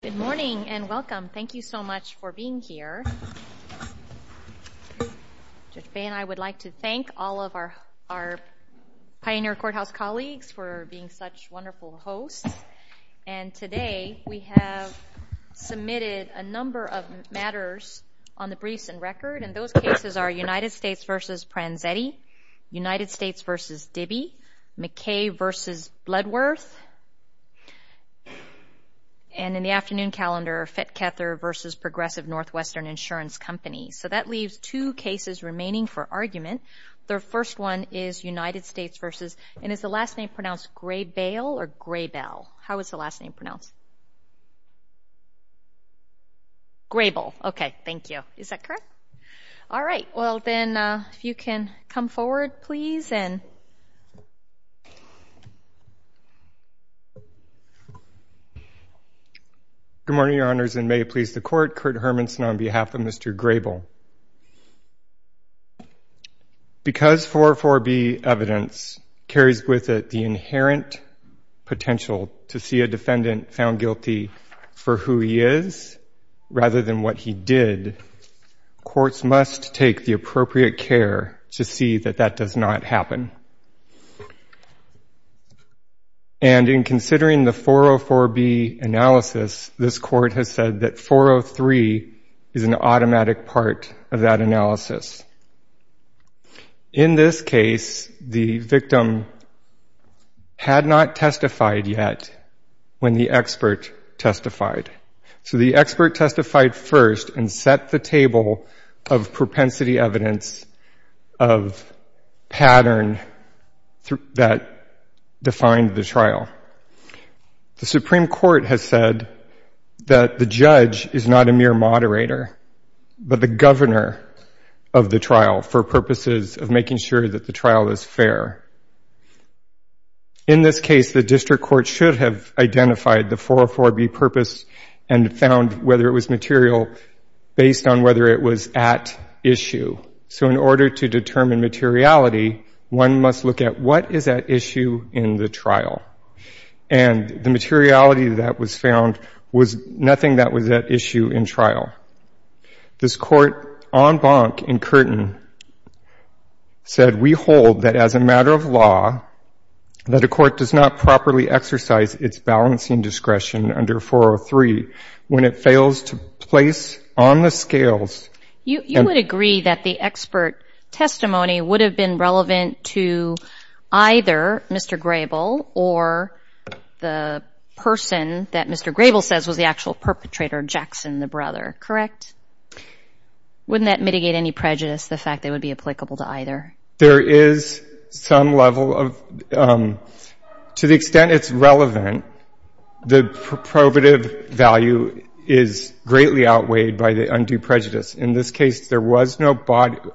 Good morning and welcome. Thank you so much for being here. I would like to thank all of our Pioneer Courthouse colleagues for being such wonderful hosts. And today we have submitted a number of matters on the briefs and record. And those cases are United States v. Pranzetti, United States v. Dibbie, McKay v. Bloodworth. And in the afternoon calendar, Fetcather v. Progressive Northwestern Insurance Company. So that leaves two cases remaining for argument. The first one is United States v. and is the last name pronounced Graybael or Graybell? How is the last name pronounced? Graybell. Okay, thank you. Is that correct? All right. Well, then, if you can come forward, please. Good morning, Your Honors, and may it please the Court. Kurt Hermanson on behalf of Mr. Graybael. Because 404B evidence carries with it the inherent potential to see a defendant found guilty for who he is rather than what he did, courts must take the appropriate care to see that that does not happen. And in considering the 404B analysis, this Court has said that 403 is an automatic part of that analysis. In this case, the victim had not testified yet when the expert testified. So the expert testified first and set the table of propensity evidence of pattern that defined the trial. The Supreme Court has said that the judge is not a mere moderator, but the governor of the trial for purposes of making sure that the trial is fair. In this case, the district court should have identified the 404B purpose and found whether it was material based on whether it was at issue. So in order to determine materiality, one must look at what is at issue in the trial. And the materiality that was found was nothing that was at issue in trial. This Court on Bonk and Curtin said we hold that as a matter of law, that a court does not properly exercise its balancing discretion under 403 when it fails to place on the scales. You would agree that the expert testimony would have been relevant to either Mr. Grable or the person that Mr. Grable says was the actual perpetrator, Jackson, the brother, correct? Wouldn't that mitigate any prejudice, the fact that it would be applicable to either? There is some level of, to the extent it's relevant, the probative value is greatly outweighed by the undue prejudice. In this case, there was no battered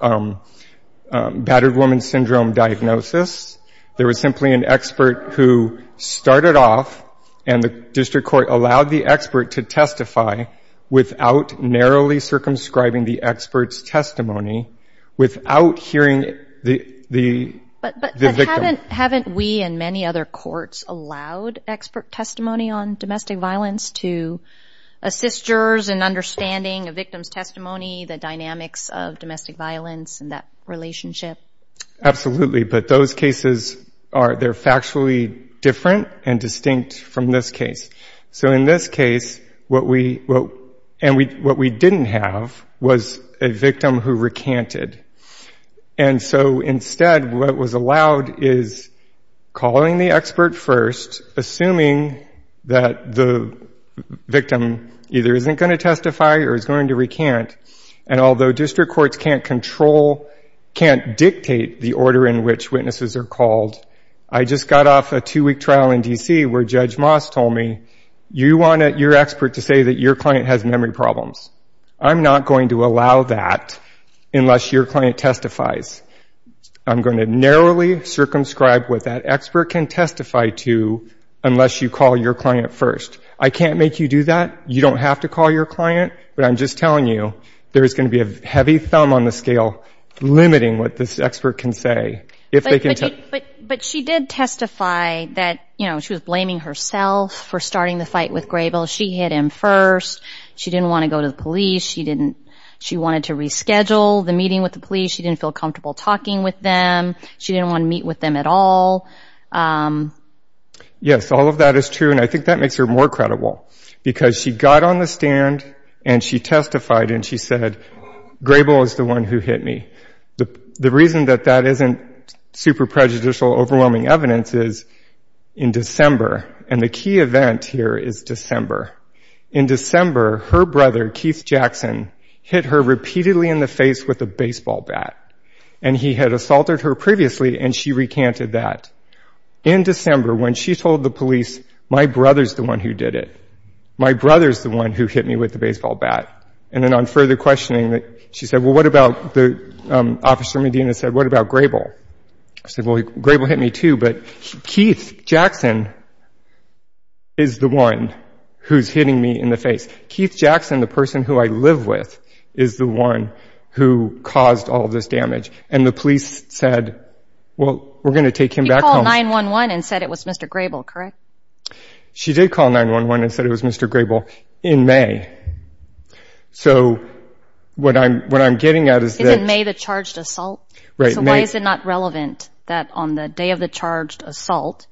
woman syndrome diagnosis. There was simply an expert who started off and the district court allowed the expert to testify without narrowly circumscribing the expert's testimony, without hearing the victim. But haven't we and many other courts allowed expert testimony on domestic violence to assist jurors in understanding a victim's testimony, the dynamics of domestic violence and that relationship? Absolutely, but those cases, they're factually different and distinct from this case. So in this case, what we didn't have was a victim who recanted. And so instead, what was allowed is calling the expert first, assuming that the victim either isn't going to testify or is going to recant. And although district courts can't control, can't dictate the order in which witnesses are called, I just got off a two-week trial in D.C. where Judge Moss told me, you want your expert to say that your client has memory problems. I'm not going to allow that unless your client testifies. I'm going to narrowly circumscribe what that expert can testify to unless you call your client first. I can't make you do that. You don't have to call your client, but I'm just telling you, there is going to be a heavy thumb on the scale limiting what this expert can say. But she did testify that, you know, she was blaming herself for starting the fight with Graybill. She hit him first. She didn't want to go to the police. She wanted to reschedule the meeting with the police. She didn't feel comfortable talking with them. She didn't want to meet with them at all. Yes, all of that is true, and I think that makes her more credible because she got on the stand, and she testified, and she said, Graybill is the one who hit me. The reason that that isn't super prejudicial, overwhelming evidence is in December, and the key event here is December. In December, her brother, Keith Jackson, hit her repeatedly in the face with a baseball bat, and he had assaulted her previously, and she recanted that. In December, when she told the police, my brother's the one who did it. My brother's the one who hit me with the baseball bat. And then on further questioning, she said, well, what about, Officer Medina said, what about Graybill? I said, well, Graybill hit me too, but Keith Jackson is the one who's hitting me in the face. Keith Jackson, the person who I live with, is the one who caused all of this damage. And the police said, well, we're going to take him back home. You called 911 and said it was Mr. Graybill, correct? She did call 911 and said it was Mr. Graybill in May. So what I'm getting at is that... Isn't May the charged assault? Right. So why is it not relevant that on the day of the charged assault,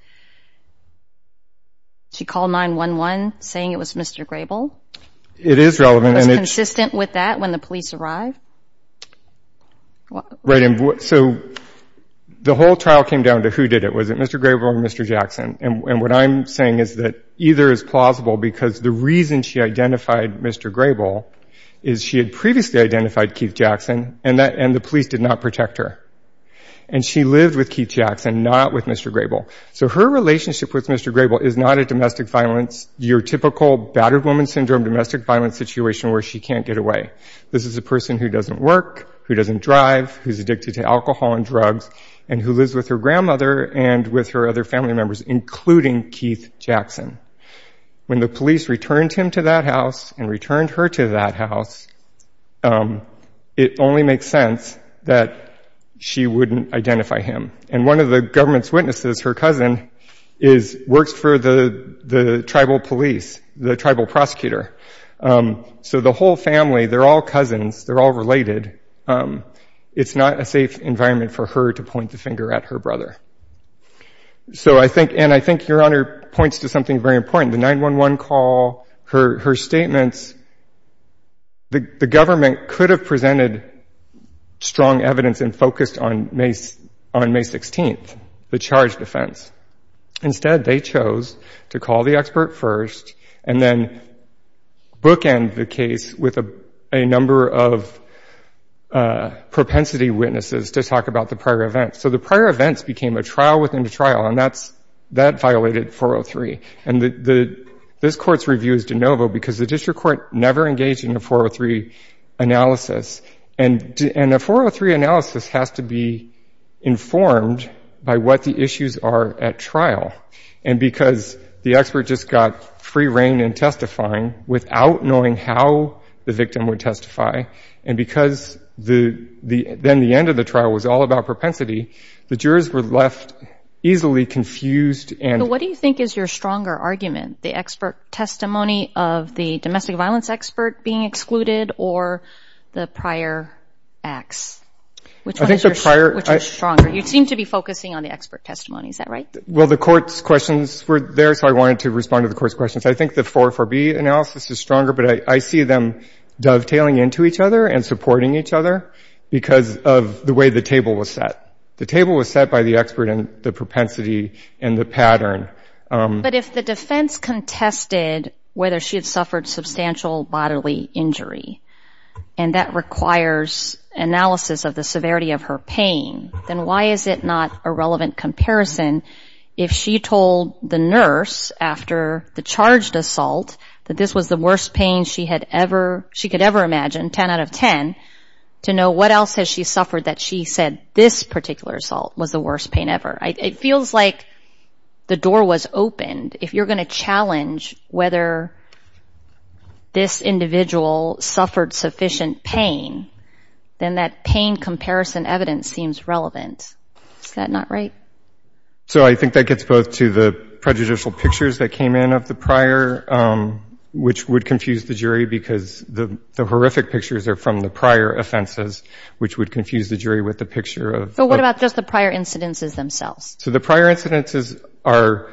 she called 911 saying it was Mr. Graybill? It is relevant. Was it consistent with that when the police arrived? Right. So the whole trial came down to who did it. Was it Mr. Graybill or Mr. Jackson? And what I'm saying is that either is plausible because the reason she identified Mr. Graybill is she had previously identified Keith Jackson, and the police did not protect her. And she lived with Keith Jackson, not with Mr. Graybill. So her relationship with Mr. Graybill is not a domestic violence, your typical battered woman syndrome domestic violence situation where she can't get away. This is a person who doesn't work, who doesn't drive, who's addicted to alcohol and drugs, and who lives with her grandmother and with her other family members, including Keith Jackson. When the police returned him to that house and returned her to that house, it only makes sense that she wouldn't identify him. And one of the government's witnesses, her cousin, works for the tribal police, the tribal prosecutor. So the whole family, they're all cousins, they're all related. It's not a safe environment for her to point the finger at her brother. And I think Your Honor points to something very important. The 911 call, her statements, the government could have presented strong evidence and focused on May 16th, the charge defense. Instead, they chose to call the expert first and then bookend the case with a number of propensity witnesses to talk about the prior events. So the prior events became a trial within a trial, and that violated 403. And this Court's review is de novo because the district court never engaged in a 403 analysis. And a 403 analysis has to be informed by what the issues are at trial. And because the expert just got free reign in testifying without knowing how the victim would testify, and because then the end of the trial was all about propensity, the jurors were left easily confused. And what do you think is your stronger argument, the expert testimony of the domestic violence expert being excluded or the prior acts? Which one is stronger? You seem to be focusing on the expert testimony, is that right? Well, the Court's questions were there, so I wanted to respond to the Court's questions. I think the 404B analysis is stronger, but I see them dovetailing into each other and supporting each other because of the way the table was set. The table was set by the expert and the propensity and the pattern. But if the defense contested whether she had suffered substantial bodily injury, and that requires analysis of the severity of her pain, then why is it not a relevant comparison if she told the nurse after the charged assault that this was the worst pain she could ever imagine, 10 out of 10, to know what else has she suffered that she said this particular assault was the worst pain ever? It feels like the door was opened. If you're going to challenge whether this individual suffered sufficient pain, then that pain comparison evidence seems relevant. Is that not right? So I think that gets both to the prejudicial pictures that came in of the prior, which would confuse the jury because the horrific pictures are from the prior offenses, which would confuse the jury with the picture of... But what about just the prior incidences themselves? So the prior incidences are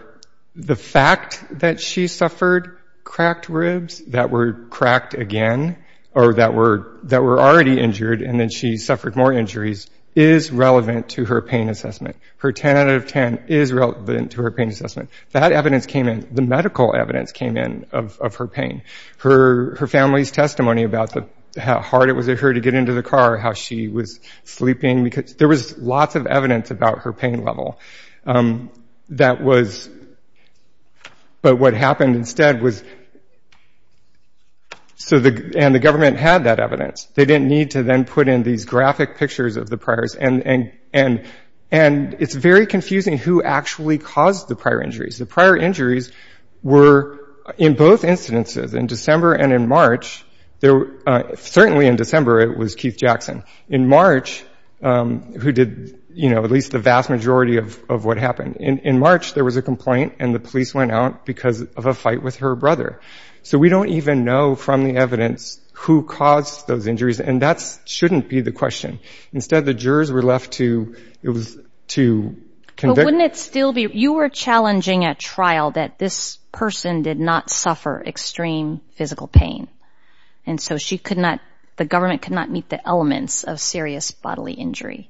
the fact that she suffered cracked ribs that were cracked again, or that were already injured and then she suffered more injuries, is relevant to her pain assessment. Her 10 out of 10 is relevant to her pain assessment. That evidence came in. The medical evidence came in of her pain. Her family's testimony about how hard it was for her to get into the car, how she was sleeping. There was lots of evidence about her pain level. That was... But what happened instead was... And the government had that evidence. They didn't need to then put in these graphic pictures of the priors. And it's very confusing who actually caused the prior injuries. The prior injuries were in both incidences, in December and in March. Certainly in December it was Keith Jackson. In March, who did at least the vast majority of what happened, in March there was a complaint and the police went out because of a fight with her brother. So we don't even know from the evidence who caused those injuries, and that shouldn't be the question. Instead, the jurors were left to... But wouldn't it still be... You were challenging at trial that this person did not suffer extreme physical pain. And so she could not... The government could not meet the elements of serious bodily injury.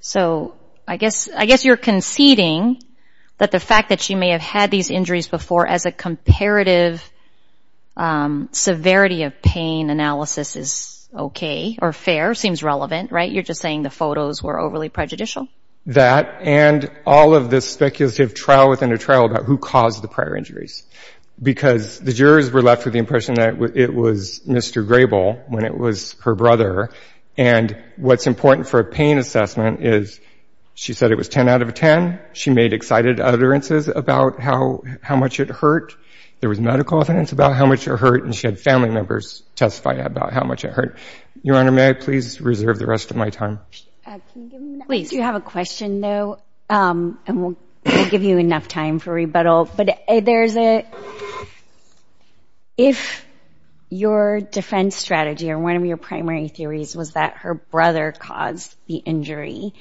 So I guess you're conceding that the fact that she may have had these injuries before as a comparative severity of pain analysis is okay or fair, seems relevant, right? You're just saying the photos were overly prejudicial? That and all of this speculative trial within a trial about who caused the prior injuries. Because the jurors were left with the impression that it was Mr. Grable when it was her brother. And what's important for a pain assessment is she said it was 10 out of a 10. She made excited utterances about how much it hurt. There was medical evidence about how much it hurt, and she had family members testify about how much it hurt. Your Honor, may I please reserve the rest of my time? Please. Do you have a question, though? And we'll give you enough time for rebuttal. But there's a... If your defense strategy or one of your primary theories was that her brother caused the injury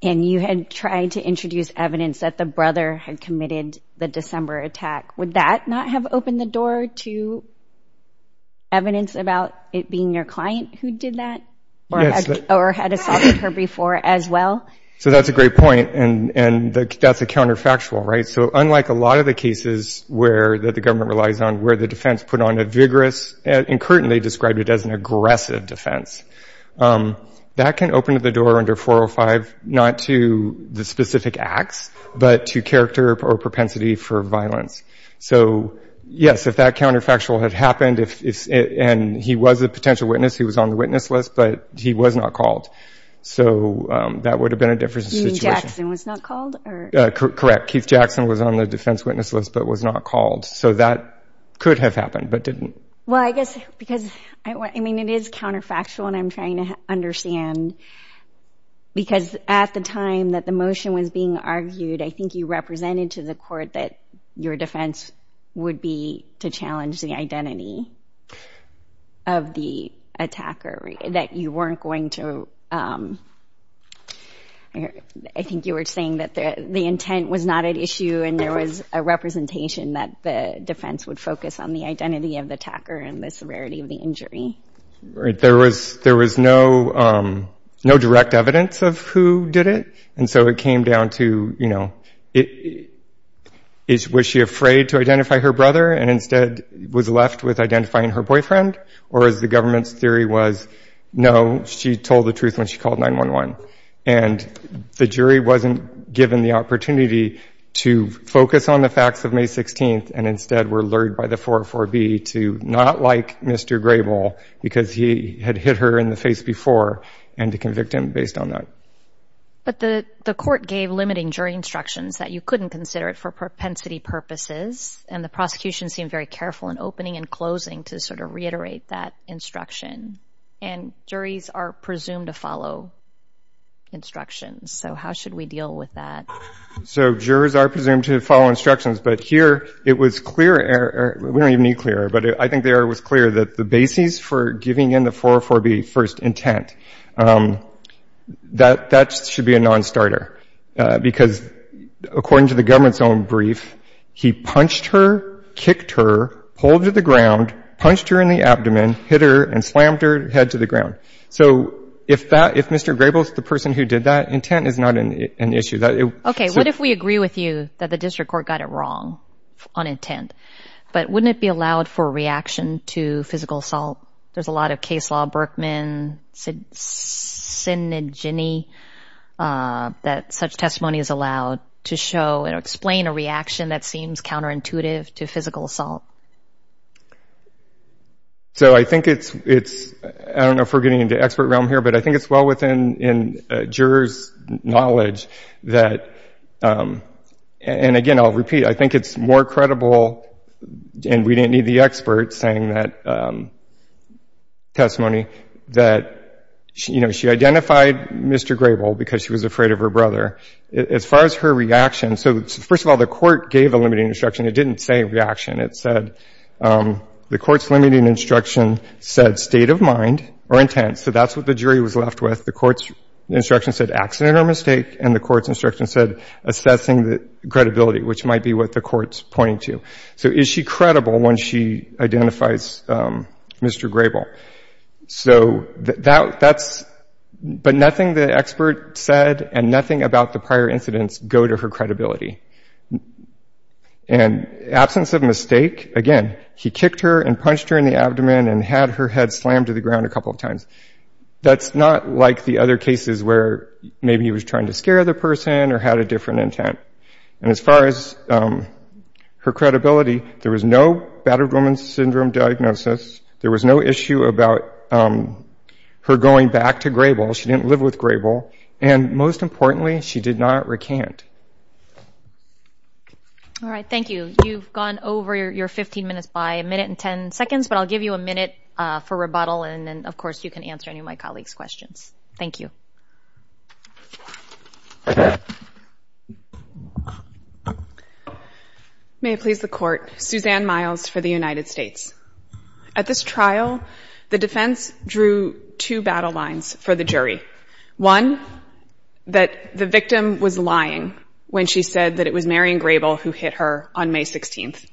and you had tried to introduce evidence that the brother had committed the December attack, would that not have opened the door to evidence about it being your client who did that? Yes. Or had assaulted her before as well? So that's a great point, and that's a counterfactual, right? So unlike a lot of the cases where the government relies on where the defense put on a vigorous and currently described it as an aggressive defense, that can open the door under 405 not to the specific acts, but to character or propensity for violence. So, yes, if that counterfactual had happened and he was a potential witness, he was on the witness list, but he was not called. So that would have been a different situation. You mean Jackson was not called? Correct. Keith Jackson was on the defense witness list but was not called. So that could have happened but didn't. Well, I guess because, I mean, it is counterfactual and I'm trying to understand because at the time that the motion was being argued, I think you represented to the court that your defense would be to challenge the identity of the attacker, that you weren't going to, I think you were saying that the intent was not at issue and there was a representation that the defense would focus on the identity of the attacker and the severity of the injury. There was no direct evidence of who did it. And so it came down to, you know, was she afraid to identify her brother and instead was left with identifying her boyfriend, or as the government's theory was, no, she told the truth when she called 911. And the jury wasn't given the opportunity to focus on the facts of May 16th and instead were lured by the 404B to not like Mr. Grable because he had hit her in the face before and to convict him based on that. But the court gave limiting jury instructions that you couldn't consider it for propensity purposes and the prosecution seemed very careful in opening and closing to sort of reiterate that instruction. And juries are presumed to follow instructions. So how should we deal with that? So jurors are presumed to follow instructions. But here it was clear, we don't even need clear, but I think the error was clear that the basis for giving in the 404B first intent, that should be a nonstarter because according to the government's own brief, he punched her, kicked her, pulled her to the ground, punched her in the abdomen, hit her and slammed her head to the ground. So if Mr. Grable is the person who did that, intent is not an issue. Okay. What if we agree with you that the district court got it wrong on intent, but wouldn't it be allowed for a reaction to physical assault? There's a lot of case law, Berkman, Sinigini, that such testimony is allowed to show and explain a reaction that seems counterintuitive to physical assault. So I think it's, I don't know if we're getting into expert realm here, but I think it's well within jurors' knowledge that, and again, I'll repeat, I think it's more credible, and we didn't need the expert saying that testimony, that she identified Mr. Grable because she was afraid of her brother. As far as her reaction, so first of all, the court gave a limiting instruction. It didn't say reaction. It said the court's limiting instruction said state of mind or intent. So that's what the jury was left with. The court's instruction said accident or mistake, and the court's instruction said assessing credibility, which might be what the court's pointing to. So is she credible when she identifies Mr. Grable? So that's, but nothing the expert said and nothing about the prior incidents go to her credibility. And absence of mistake, again, he kicked her and punched her in the abdomen and had her head slammed to the ground a couple of times. That's not like the other cases where maybe he was trying to scare the person or had a different intent. And as far as her credibility, there was no battered woman syndrome diagnosis. There was no issue about her going back to Grable. She didn't live with Grable. And most importantly, she did not recant. All right, thank you. You've gone over your 15 minutes by a minute and 10 seconds, but I'll give you a minute for rebuttal, and then, of course, you can answer any of my colleagues' questions. Thank you. May it please the Court, Suzanne Miles for the United States. At this trial, the defense drew two battle lines for the jury. One, that the victim was lying when she said that it was Marion Grable who hit her on May 16th.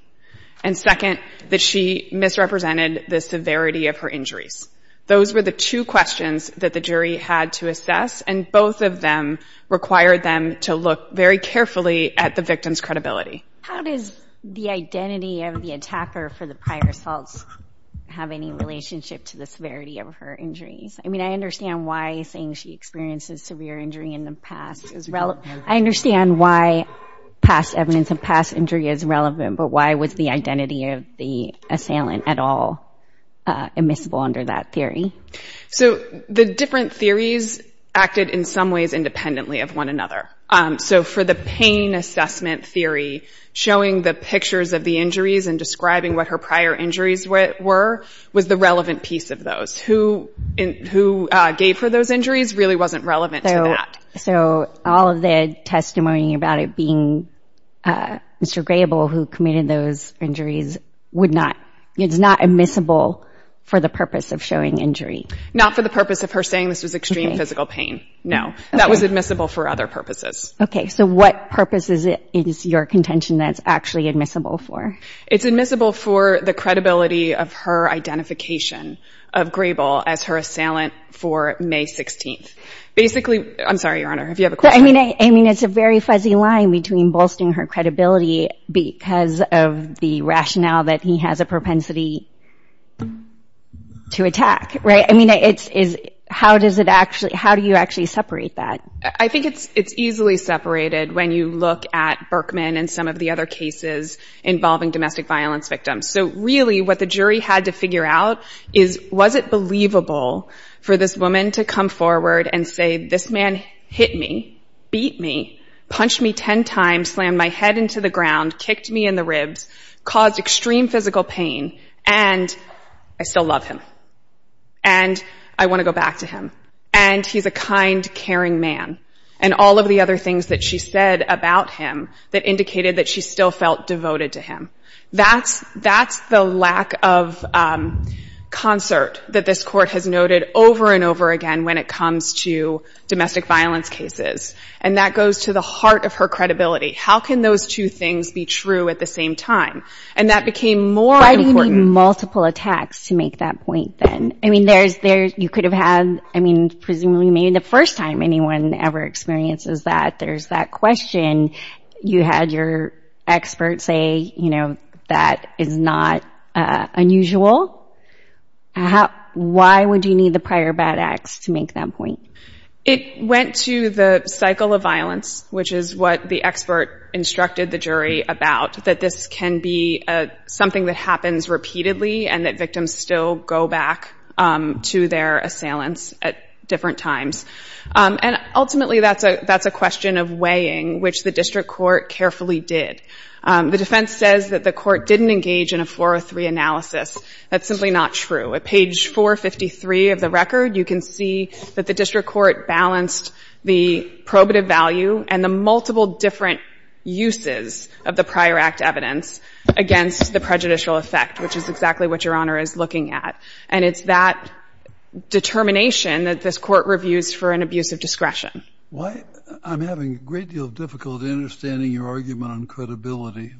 And second, that she misrepresented the severity of her injuries. Those were the two questions that the jury had to assess, and both of them required them to look very carefully at the victim's credibility. How does the identity of the attacker for the prior assaults have any relationship to the severity of her injuries? I mean, I understand why saying she experienced a severe injury in the past is relevant. I understand why past evidence of past injury is relevant, but why was the identity of the assailant at all admissible under that theory? So the different theories acted in some ways independently of one another. So for the pain assessment theory, showing the pictures of the injuries and describing what her prior injuries were was the relevant piece of those. Who gave her those injuries really wasn't relevant to that. So all of the testimony about it being Mr. Grable who committed those injuries is not admissible for the purpose of showing injury? Not for the purpose of her saying this was extreme physical pain, no. That was admissible for other purposes. Okay, so what purpose is your contention that it's actually admissible for? It's admissible for the credibility of her identification of Grable as her assailant for May 16th. Basically, I'm sorry, Your Honor, if you have a question. I mean, it's a very fuzzy line between bolstering her credibility because of the rationale that he has a propensity to attack, right? How do you actually separate that? I think it's easily separated when you look at Berkman and some of the other cases involving domestic violence victims. So really what the jury had to figure out is, was it believable for this woman to come forward and say, this man hit me, beat me, punched me 10 times, slammed my head into the ground, kicked me in the ribs, caused extreme physical pain, and I still love him. And I want to go back to him. And he's a kind, caring man. And all of the other things that she said about him that indicated that she still felt devoted to him. That's the lack of concert that this Court has noted over and over again when it comes to domestic violence cases. And that goes to the heart of her credibility. How can those two things be true at the same time? And that became more important. Multiple attacks to make that point then. I mean, you could have had, I mean, presumably maybe the first time anyone ever experiences that, there's that question. You had your expert say, you know, that is not unusual. Why would you need the prior bad acts to make that point? It went to the cycle of violence, which is what the expert instructed the jury about, that this can be something that happens repeatedly and that victims still go back to their assailants at different times. And ultimately, that's a question of weighing, which the district court carefully did. The defense says that the court didn't engage in a 403 analysis. That's simply not true. At page 453 of the record, you can see that the district court balanced the probative value and the multiple different uses of the prior act evidence against the prejudicial effect, which is exactly what Your Honor is looking at. And it's that determination that this court reviews for an abuse of discretion. I'm having a great deal of difficulty understanding your argument on credibility.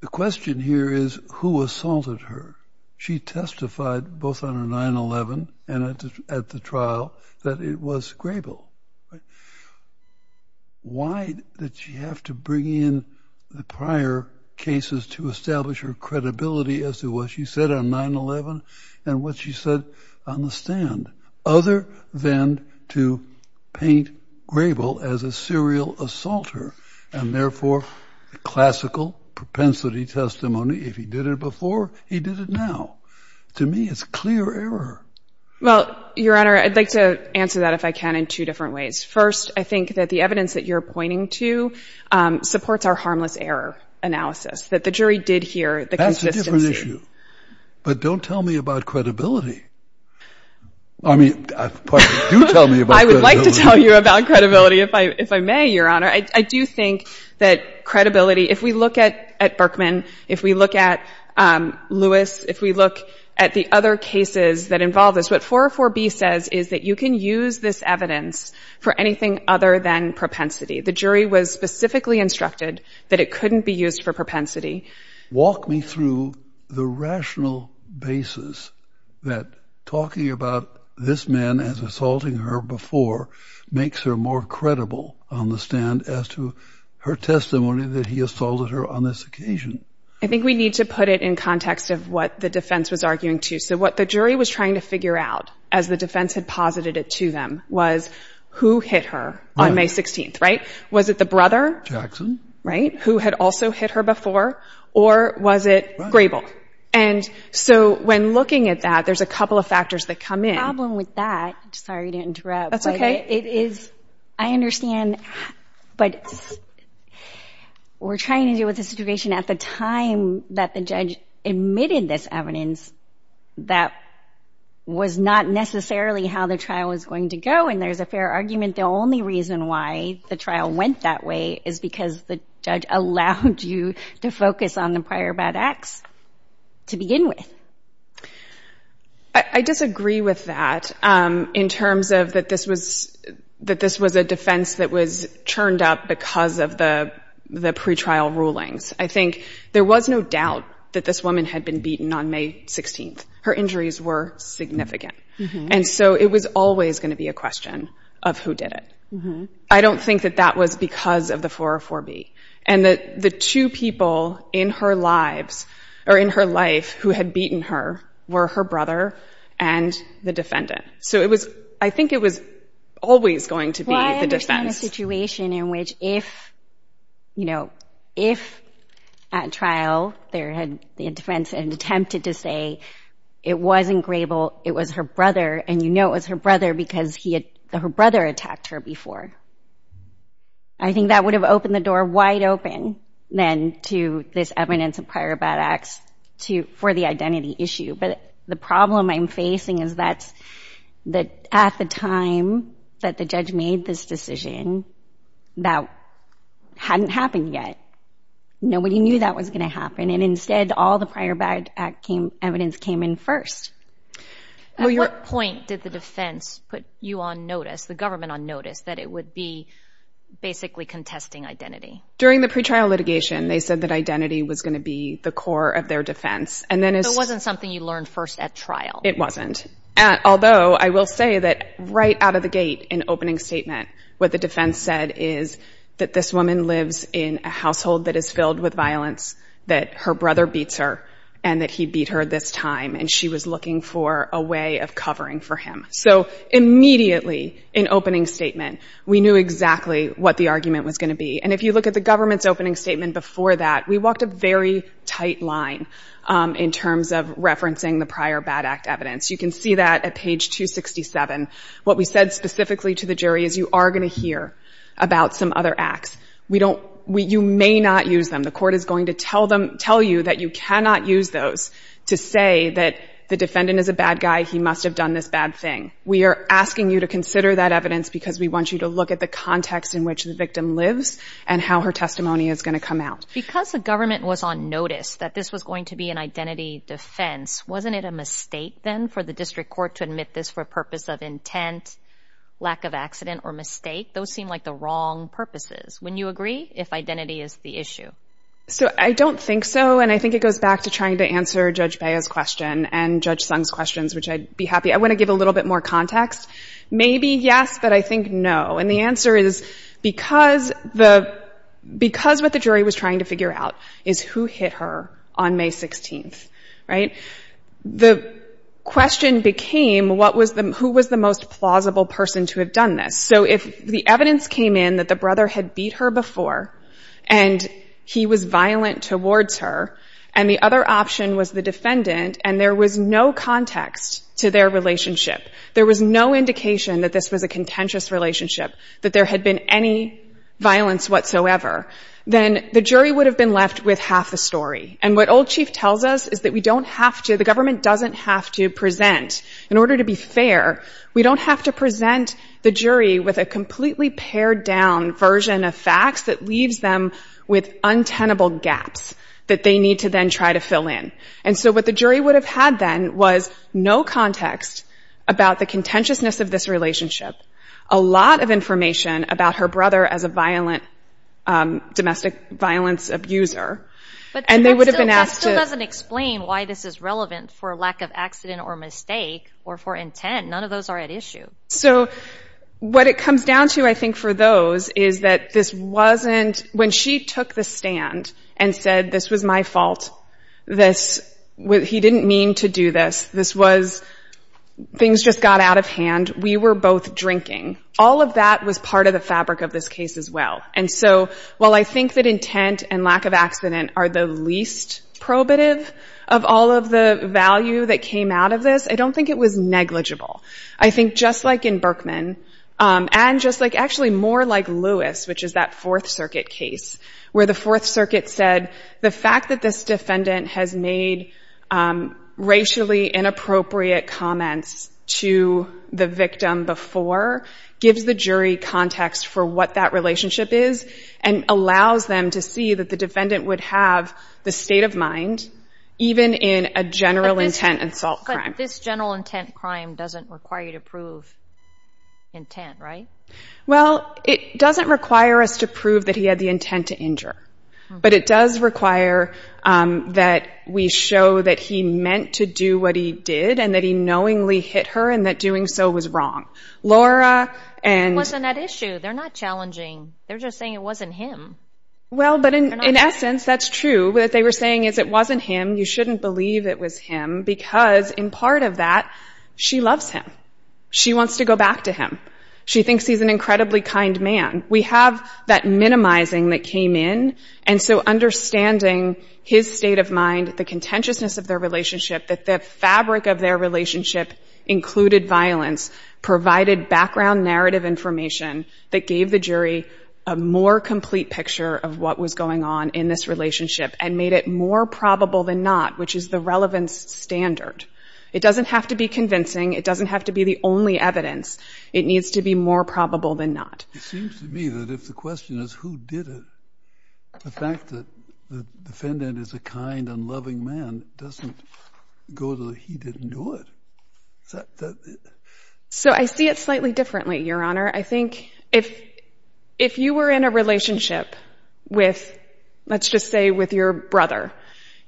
The question here is, who assaulted her? She testified, both on a 9-11 and at the trial, that it was Grable. Why did she have to bring in the prior cases to establish her credibility as to what she said on 9-11 and what she said on the stand, other than to paint Grable as a serial assaulter and, therefore, a classical propensity testimony, if he did it before, he did it now? To me, it's clear error. Well, Your Honor, I'd like to answer that, if I can, in two different ways. First, I think that the evidence that you're pointing to supports our harmless error analysis, that the jury did hear the consistency. That's a different issue. But don't tell me about credibility. I mean, do tell me about credibility. I would like to tell you about credibility, if I may, Your Honor. I do think that credibility, if we look at Berkman, if we look at Lewis, if we look at the other cases that involve this, what 404B says is that you can use this evidence for anything other than propensity. The jury was specifically instructed that it couldn't be used for propensity. Walk me through the rational basis that talking about this man as assaulting her before makes her more credible on the stand as to her testimony that he assaulted her on this occasion? I think we need to put it in context of what the defense was arguing, too. So what the jury was trying to figure out, as the defense had posited it to them, was who hit her on May 16th, right? Was it the brother? Jackson. Right. Who had also hit her before, or was it Grable? And so when looking at that, there's a couple of factors that come in. The problem with that, sorry to interrupt. That's okay. I understand, but we're trying to deal with a situation at the time that the judge admitted this evidence that was not necessarily how the trial was going to go, and there's a fair argument. The only reason why the trial went that way is because the judge allowed you to focus on the prior bad acts to begin with. I disagree with that in terms of that this was a defense that was churned up because of the pretrial rulings. I think there was no doubt that this woman had been beaten on May 16th. Her injuries were significant, and so it was always going to be a question of who did it. I don't think that that was because of the 404B, and that the two people in her lives, or in her life, who had beaten her were her brother and the defendant. So I think it was always going to be the defense. Well, I understand a situation in which if, you know, if at trial the defense had attempted to say it wasn't Grable, it was her brother, and you know it was her brother because her brother attacked her before, I think that would have opened the door wide open then to this evidence of prior bad acts for the identity issue. But the problem I'm facing is that at the time that the judge made this decision, that hadn't happened yet. Nobody knew that was going to happen, and instead all the prior bad act evidence came in first. At what point did the defense put you on notice, the government on notice, that it would be basically contesting identity? During the pretrial litigation, they said that identity was going to be the core of their defense. So it wasn't something you learned first at trial? It wasn't. Although I will say that right out of the gate, in opening statement, what the defense said is that this woman lives in a household that is filled with violence, that her brother beats her, and that he beat her this time, and she was looking for a way of covering for him. So immediately in opening statement, we knew exactly what the argument was going to be. And if you look at the government's opening statement before that, we walked a very tight line in terms of referencing the prior bad act evidence. You can see that at page 267. What we said specifically to the jury is you are going to hear about some other acts. You may not use them. The court is going to tell you that you cannot use those to say that the defendant is a bad guy, he must have done this bad thing. We are asking you to consider that evidence because we want you to look at the context in which the victim lives and how her testimony is going to come out. Because the government was on notice that this was going to be an identity defense, wasn't it a mistake then for the district court to admit this for a purpose of intent, lack of accident, or mistake? Those seem like the wrong purposes. Wouldn't you agree if identity is the issue? So I don't think so, and I think it goes back to trying to answer Judge Bea's question and Judge Sung's questions, which I'd be happy. I want to give a little bit more context. Maybe yes, but I think no. And the answer is, because what the jury was trying to figure out is who hit her on May 16th, right? The question became, who was the most plausible person to have done this? So if the evidence came in that the brother had beat her before and he was violent towards her and the other option was the defendant and there was no context to their relationship, there was no indication that this was a contentious relationship, that there had been any violence whatsoever, then the jury would have been left with half the story. And what Old Chief tells us is that we don't have to, the government doesn't have to present. In order to be fair, we don't have to present the jury with a completely pared-down version of facts that leaves them with untenable gaps that they need to then try to fill in. And so what the jury would have had then was no context about the contentiousness of this relationship, a lot of information about her brother as a domestic violence abuser, and they would have been asked to... But that still doesn't explain why this is relevant for lack of accident or mistake or for intent. None of those are at issue. So what it comes down to, I think, for those is that this wasn't... When she took the stand and said, this was my fault, this... He didn't mean to do this. This was... Things just got out of hand. We were both drinking. All of that was part of the fabric of this case as well. And so while I think that intent and lack of accident are the least probative of all of the value that came out of this, I don't think it was negligible. I think just like in Berkman, and just like, actually, more like Lewis, which is that Fourth Circuit case, where the Fourth Circuit said the fact that this defendant has made racially inappropriate comments to the victim before gives the jury context for what that relationship is and allows them to see that the defendant would have the state of mind even in a general intent assault crime. But this general intent crime doesn't require you to prove intent, right? Well, it doesn't require us to prove that he had the intent to injure. But it does require that we show that he meant to do what he did and that he knowingly hit her and that doing so was wrong. Laura and... It wasn't that issue. They're not challenging. They're just saying it wasn't him. Well, but in essence, that's true. What they were saying is it wasn't him. You shouldn't believe it was him because in part of that, she loves him. She wants to go back to him. She thinks he's an incredibly kind man. We have that minimizing that came in. And so understanding his state of mind, the contentiousness of their relationship, that the fabric of their relationship included violence, provided background narrative information that gave the jury a more complete picture of what was going on in this relationship and made it more probable than not, which is the relevance standard. It doesn't have to be convincing. It doesn't have to be the only evidence. It needs to be more probable than not. It seems to me that if the question is who did it, the fact that the defendant is a kind and loving man doesn't go to the he didn't do it. Is that... So I see it slightly differently, Your Honor. I think if you were in a relationship with, let's just say, with your brother,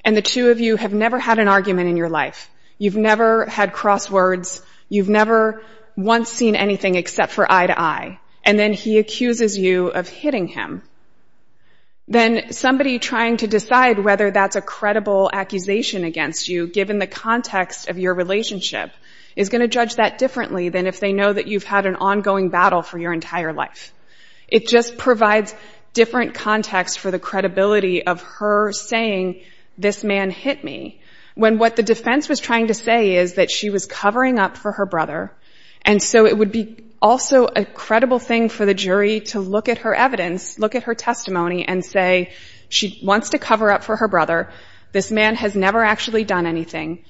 and the two of you have never had an argument in your life, you've never had crosswords, you've never once seen anything except for eye-to-eye, and then he accuses you of hitting him, then somebody trying to decide whether that's a credible accusation against you, given the context of your relationship, is going to judge that differently than if they know that you've had an ongoing battle for your entire life. It just provides different context for the credibility of her saying, this man hit me, when what the defense was trying to say is that she was covering up for her brother, and so it would be also a credible thing for the jury to look at her evidence, look at her testimony, and say, she wants to cover up for her brother. This man has never actually done anything.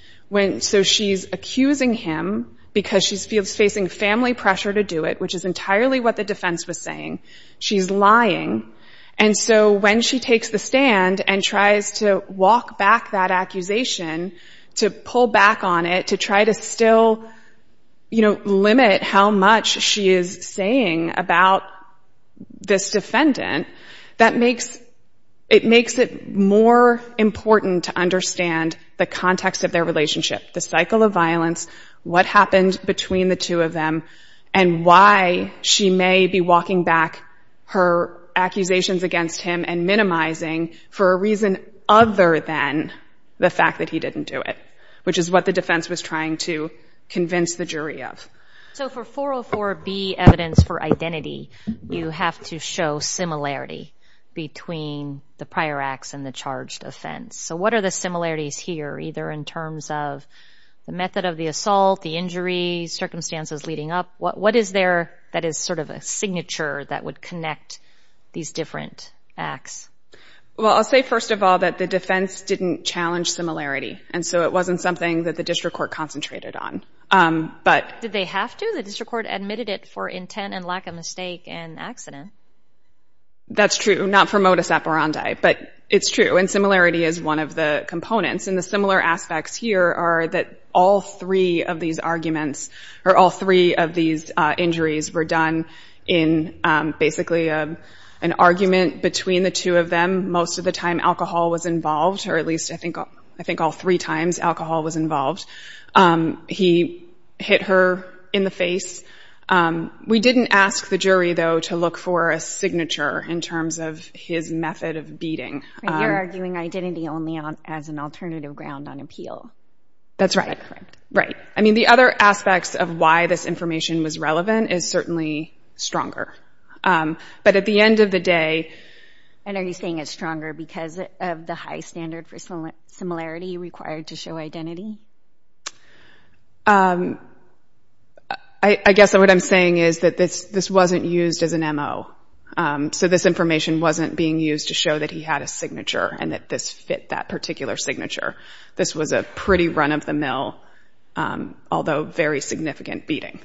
So she's accusing him because she's facing family pressure to do it, which is entirely what the defense was saying. She's lying. And so when she takes the stand and tries to walk back that accusation, to pull back on it, to try to still, you know, limit how much she is saying about this defendant, that makes it more important to understand the context of their relationship, the cycle of violence, what happened between the two of them, and why she may be walking back her accusations against him and minimizing for a reason other than the fact that he didn't do it, which is what the defense was trying to convince the jury of. So for 404B evidence for identity, you have to show similarity between the prior acts and the charged offense. So what are the similarities here, either in terms of the method of the assault, the injury, circumstances leading up? What is there that is sort of a signature that would connect these different acts? Well, I'll say first of all that the defense didn't challenge similarity, and so it wasn't something that the district court concentrated on. Did they have to? The district court admitted it for intent and lack of mistake and accident. That's true, not for modus operandi, but it's true, and similarity is one of the components. And the similar aspects here are that all three of these arguments, or all three of these injuries, were done in basically an argument between the two of them. Most of the time alcohol was involved, or at least I think all three times alcohol was involved. He hit her in the face. We didn't ask the jury, though, to look for a signature in terms of his method of beating. You're arguing identity only as an alternative ground on appeal. That's right. I mean, the other aspects of why this information was relevant is certainly stronger. But at the end of the day... And are you saying it's stronger because of the high standard for similarity required to show identity? Um... I guess what I'm saying is that this wasn't used as an M.O. So this information wasn't being used to show that he had a signature and that this fit that particular signature. This was a pretty run-of-the-mill, although very significant, beating.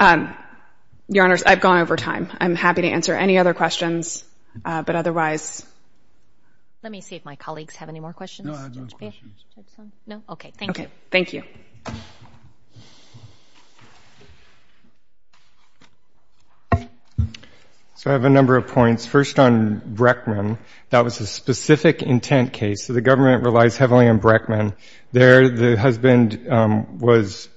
Your Honors, I've gone over time. I'm happy to answer any other questions, but otherwise... Let me see if my colleagues have any more questions. No, I have no questions. Okay, thank you. So I have a number of points. First on Breckman, that was a specific intent case. The government relies heavily on Breckman. There, the husband was...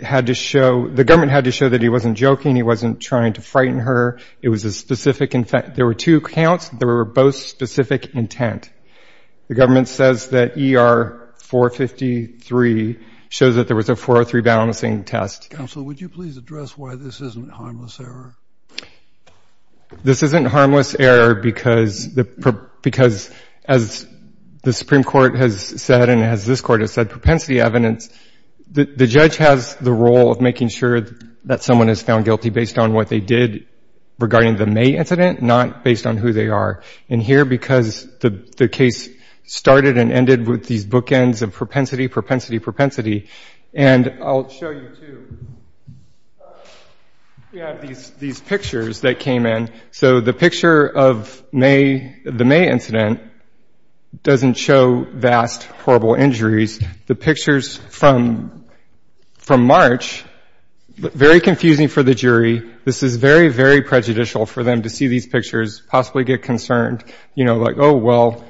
had to show... The government had to show that he wasn't joking, he wasn't trying to frighten her. It was a specific... There were two counts. They were both specific intent. The government says that E.R. 453 shows that there was a 403 balancing test. Counsel, would you please address why this isn't harmless error? This isn't harmless error because... because as the Supreme Court has said and as this Court has said, propensity evidence... The judge has the role of making sure that someone is found guilty based on what they did regarding the May incident, not based on who they are. And here, because the case started and ended with these bookends of propensity, propensity, propensity. And I'll show you two. We have these pictures that came in. So the picture of May... doesn't show vast, horrible injuries. The pictures from... from March, very confusing for the jury. This is very, very prejudicial for them to see these pictures, possibly get concerned, you know, like, oh, well,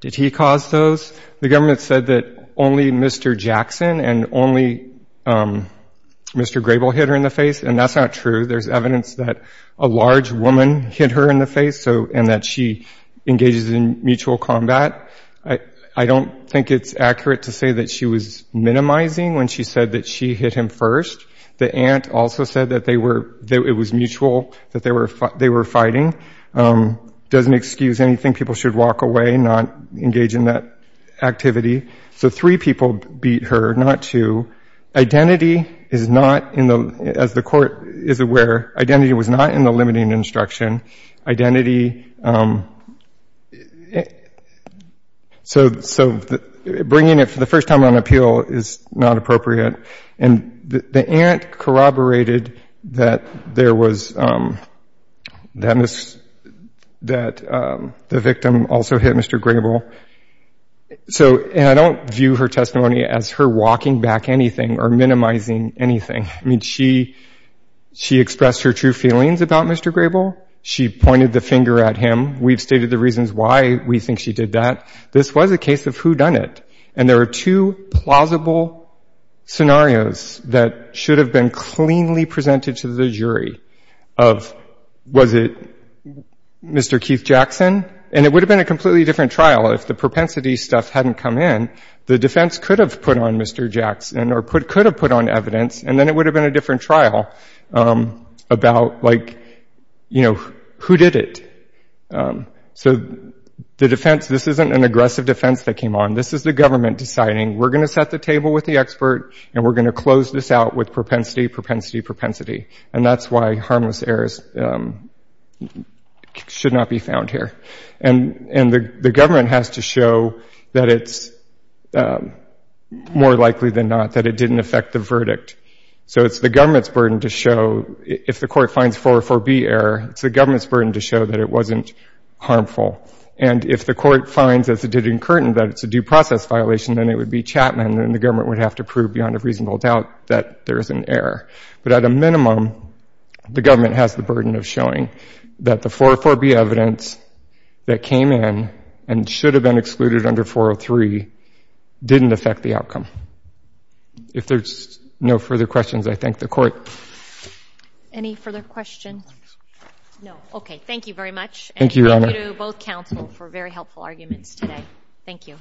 did he cause those? The government said that only Mr. Jackson and only Mr. Grable hit her in the face, and that's not true. There's evidence that a large woman hit her in the face, and that she engages in mutual combat. I don't think it's accurate to say that she was minimizing when she said that she hit him first. The aunt also said that they were... that it was mutual, that they were fighting. Doesn't excuse anything. People should walk away, not engage in that activity. So three people beat her, not two. Identity is not in the... as the court is aware, identity was not in the limiting instruction. Identity... So bringing it for the first time on appeal is not appropriate. And the aunt corroborated that there was... that the victim also hit Mr. Grable. So, and I don't view her testimony as her walking back anything or minimizing anything. I mean, she expressed her true feelings about Mr. Grable. She pointed the finger at him. We've stated the reasons why we think she did that. This was a case of whodunit. And there are two plausible scenarios that should have been cleanly presented to the jury of was it Mr. Keith Jackson? And it would have been a completely different trial if the propensity stuff hadn't come in. The defense could have put on Mr. Jackson or could have put on evidence and then it would have been a different trial about like, you know, who did it? So the defense... this isn't an aggressive defense that came on. This is the government deciding we're going to set the table with the expert and we're going to close this out with propensity, propensity, propensity. And that's why harmless errors should not be found here. And the government has to show that it's more likely than not that it didn't affect the verdict. So it's the government's burden to show if the court finds 404B error, it's the government's burden to show that it wasn't harmful. And if the court finds, as it did in Curtin, that it's a due process violation, then it would be Chapman and the government would have to prove beyond a reasonable doubt that there is an error. But at a minimum, the government has the burden of showing that the 404B evidence that came in and should have been excluded under 403 didn't affect the outcome. If there's no further questions, I thank the court. Any further questions? No, okay. Thank you very much. Thank you, Your Honor. And thank you to both counsel for very helpful arguments today. Thank you.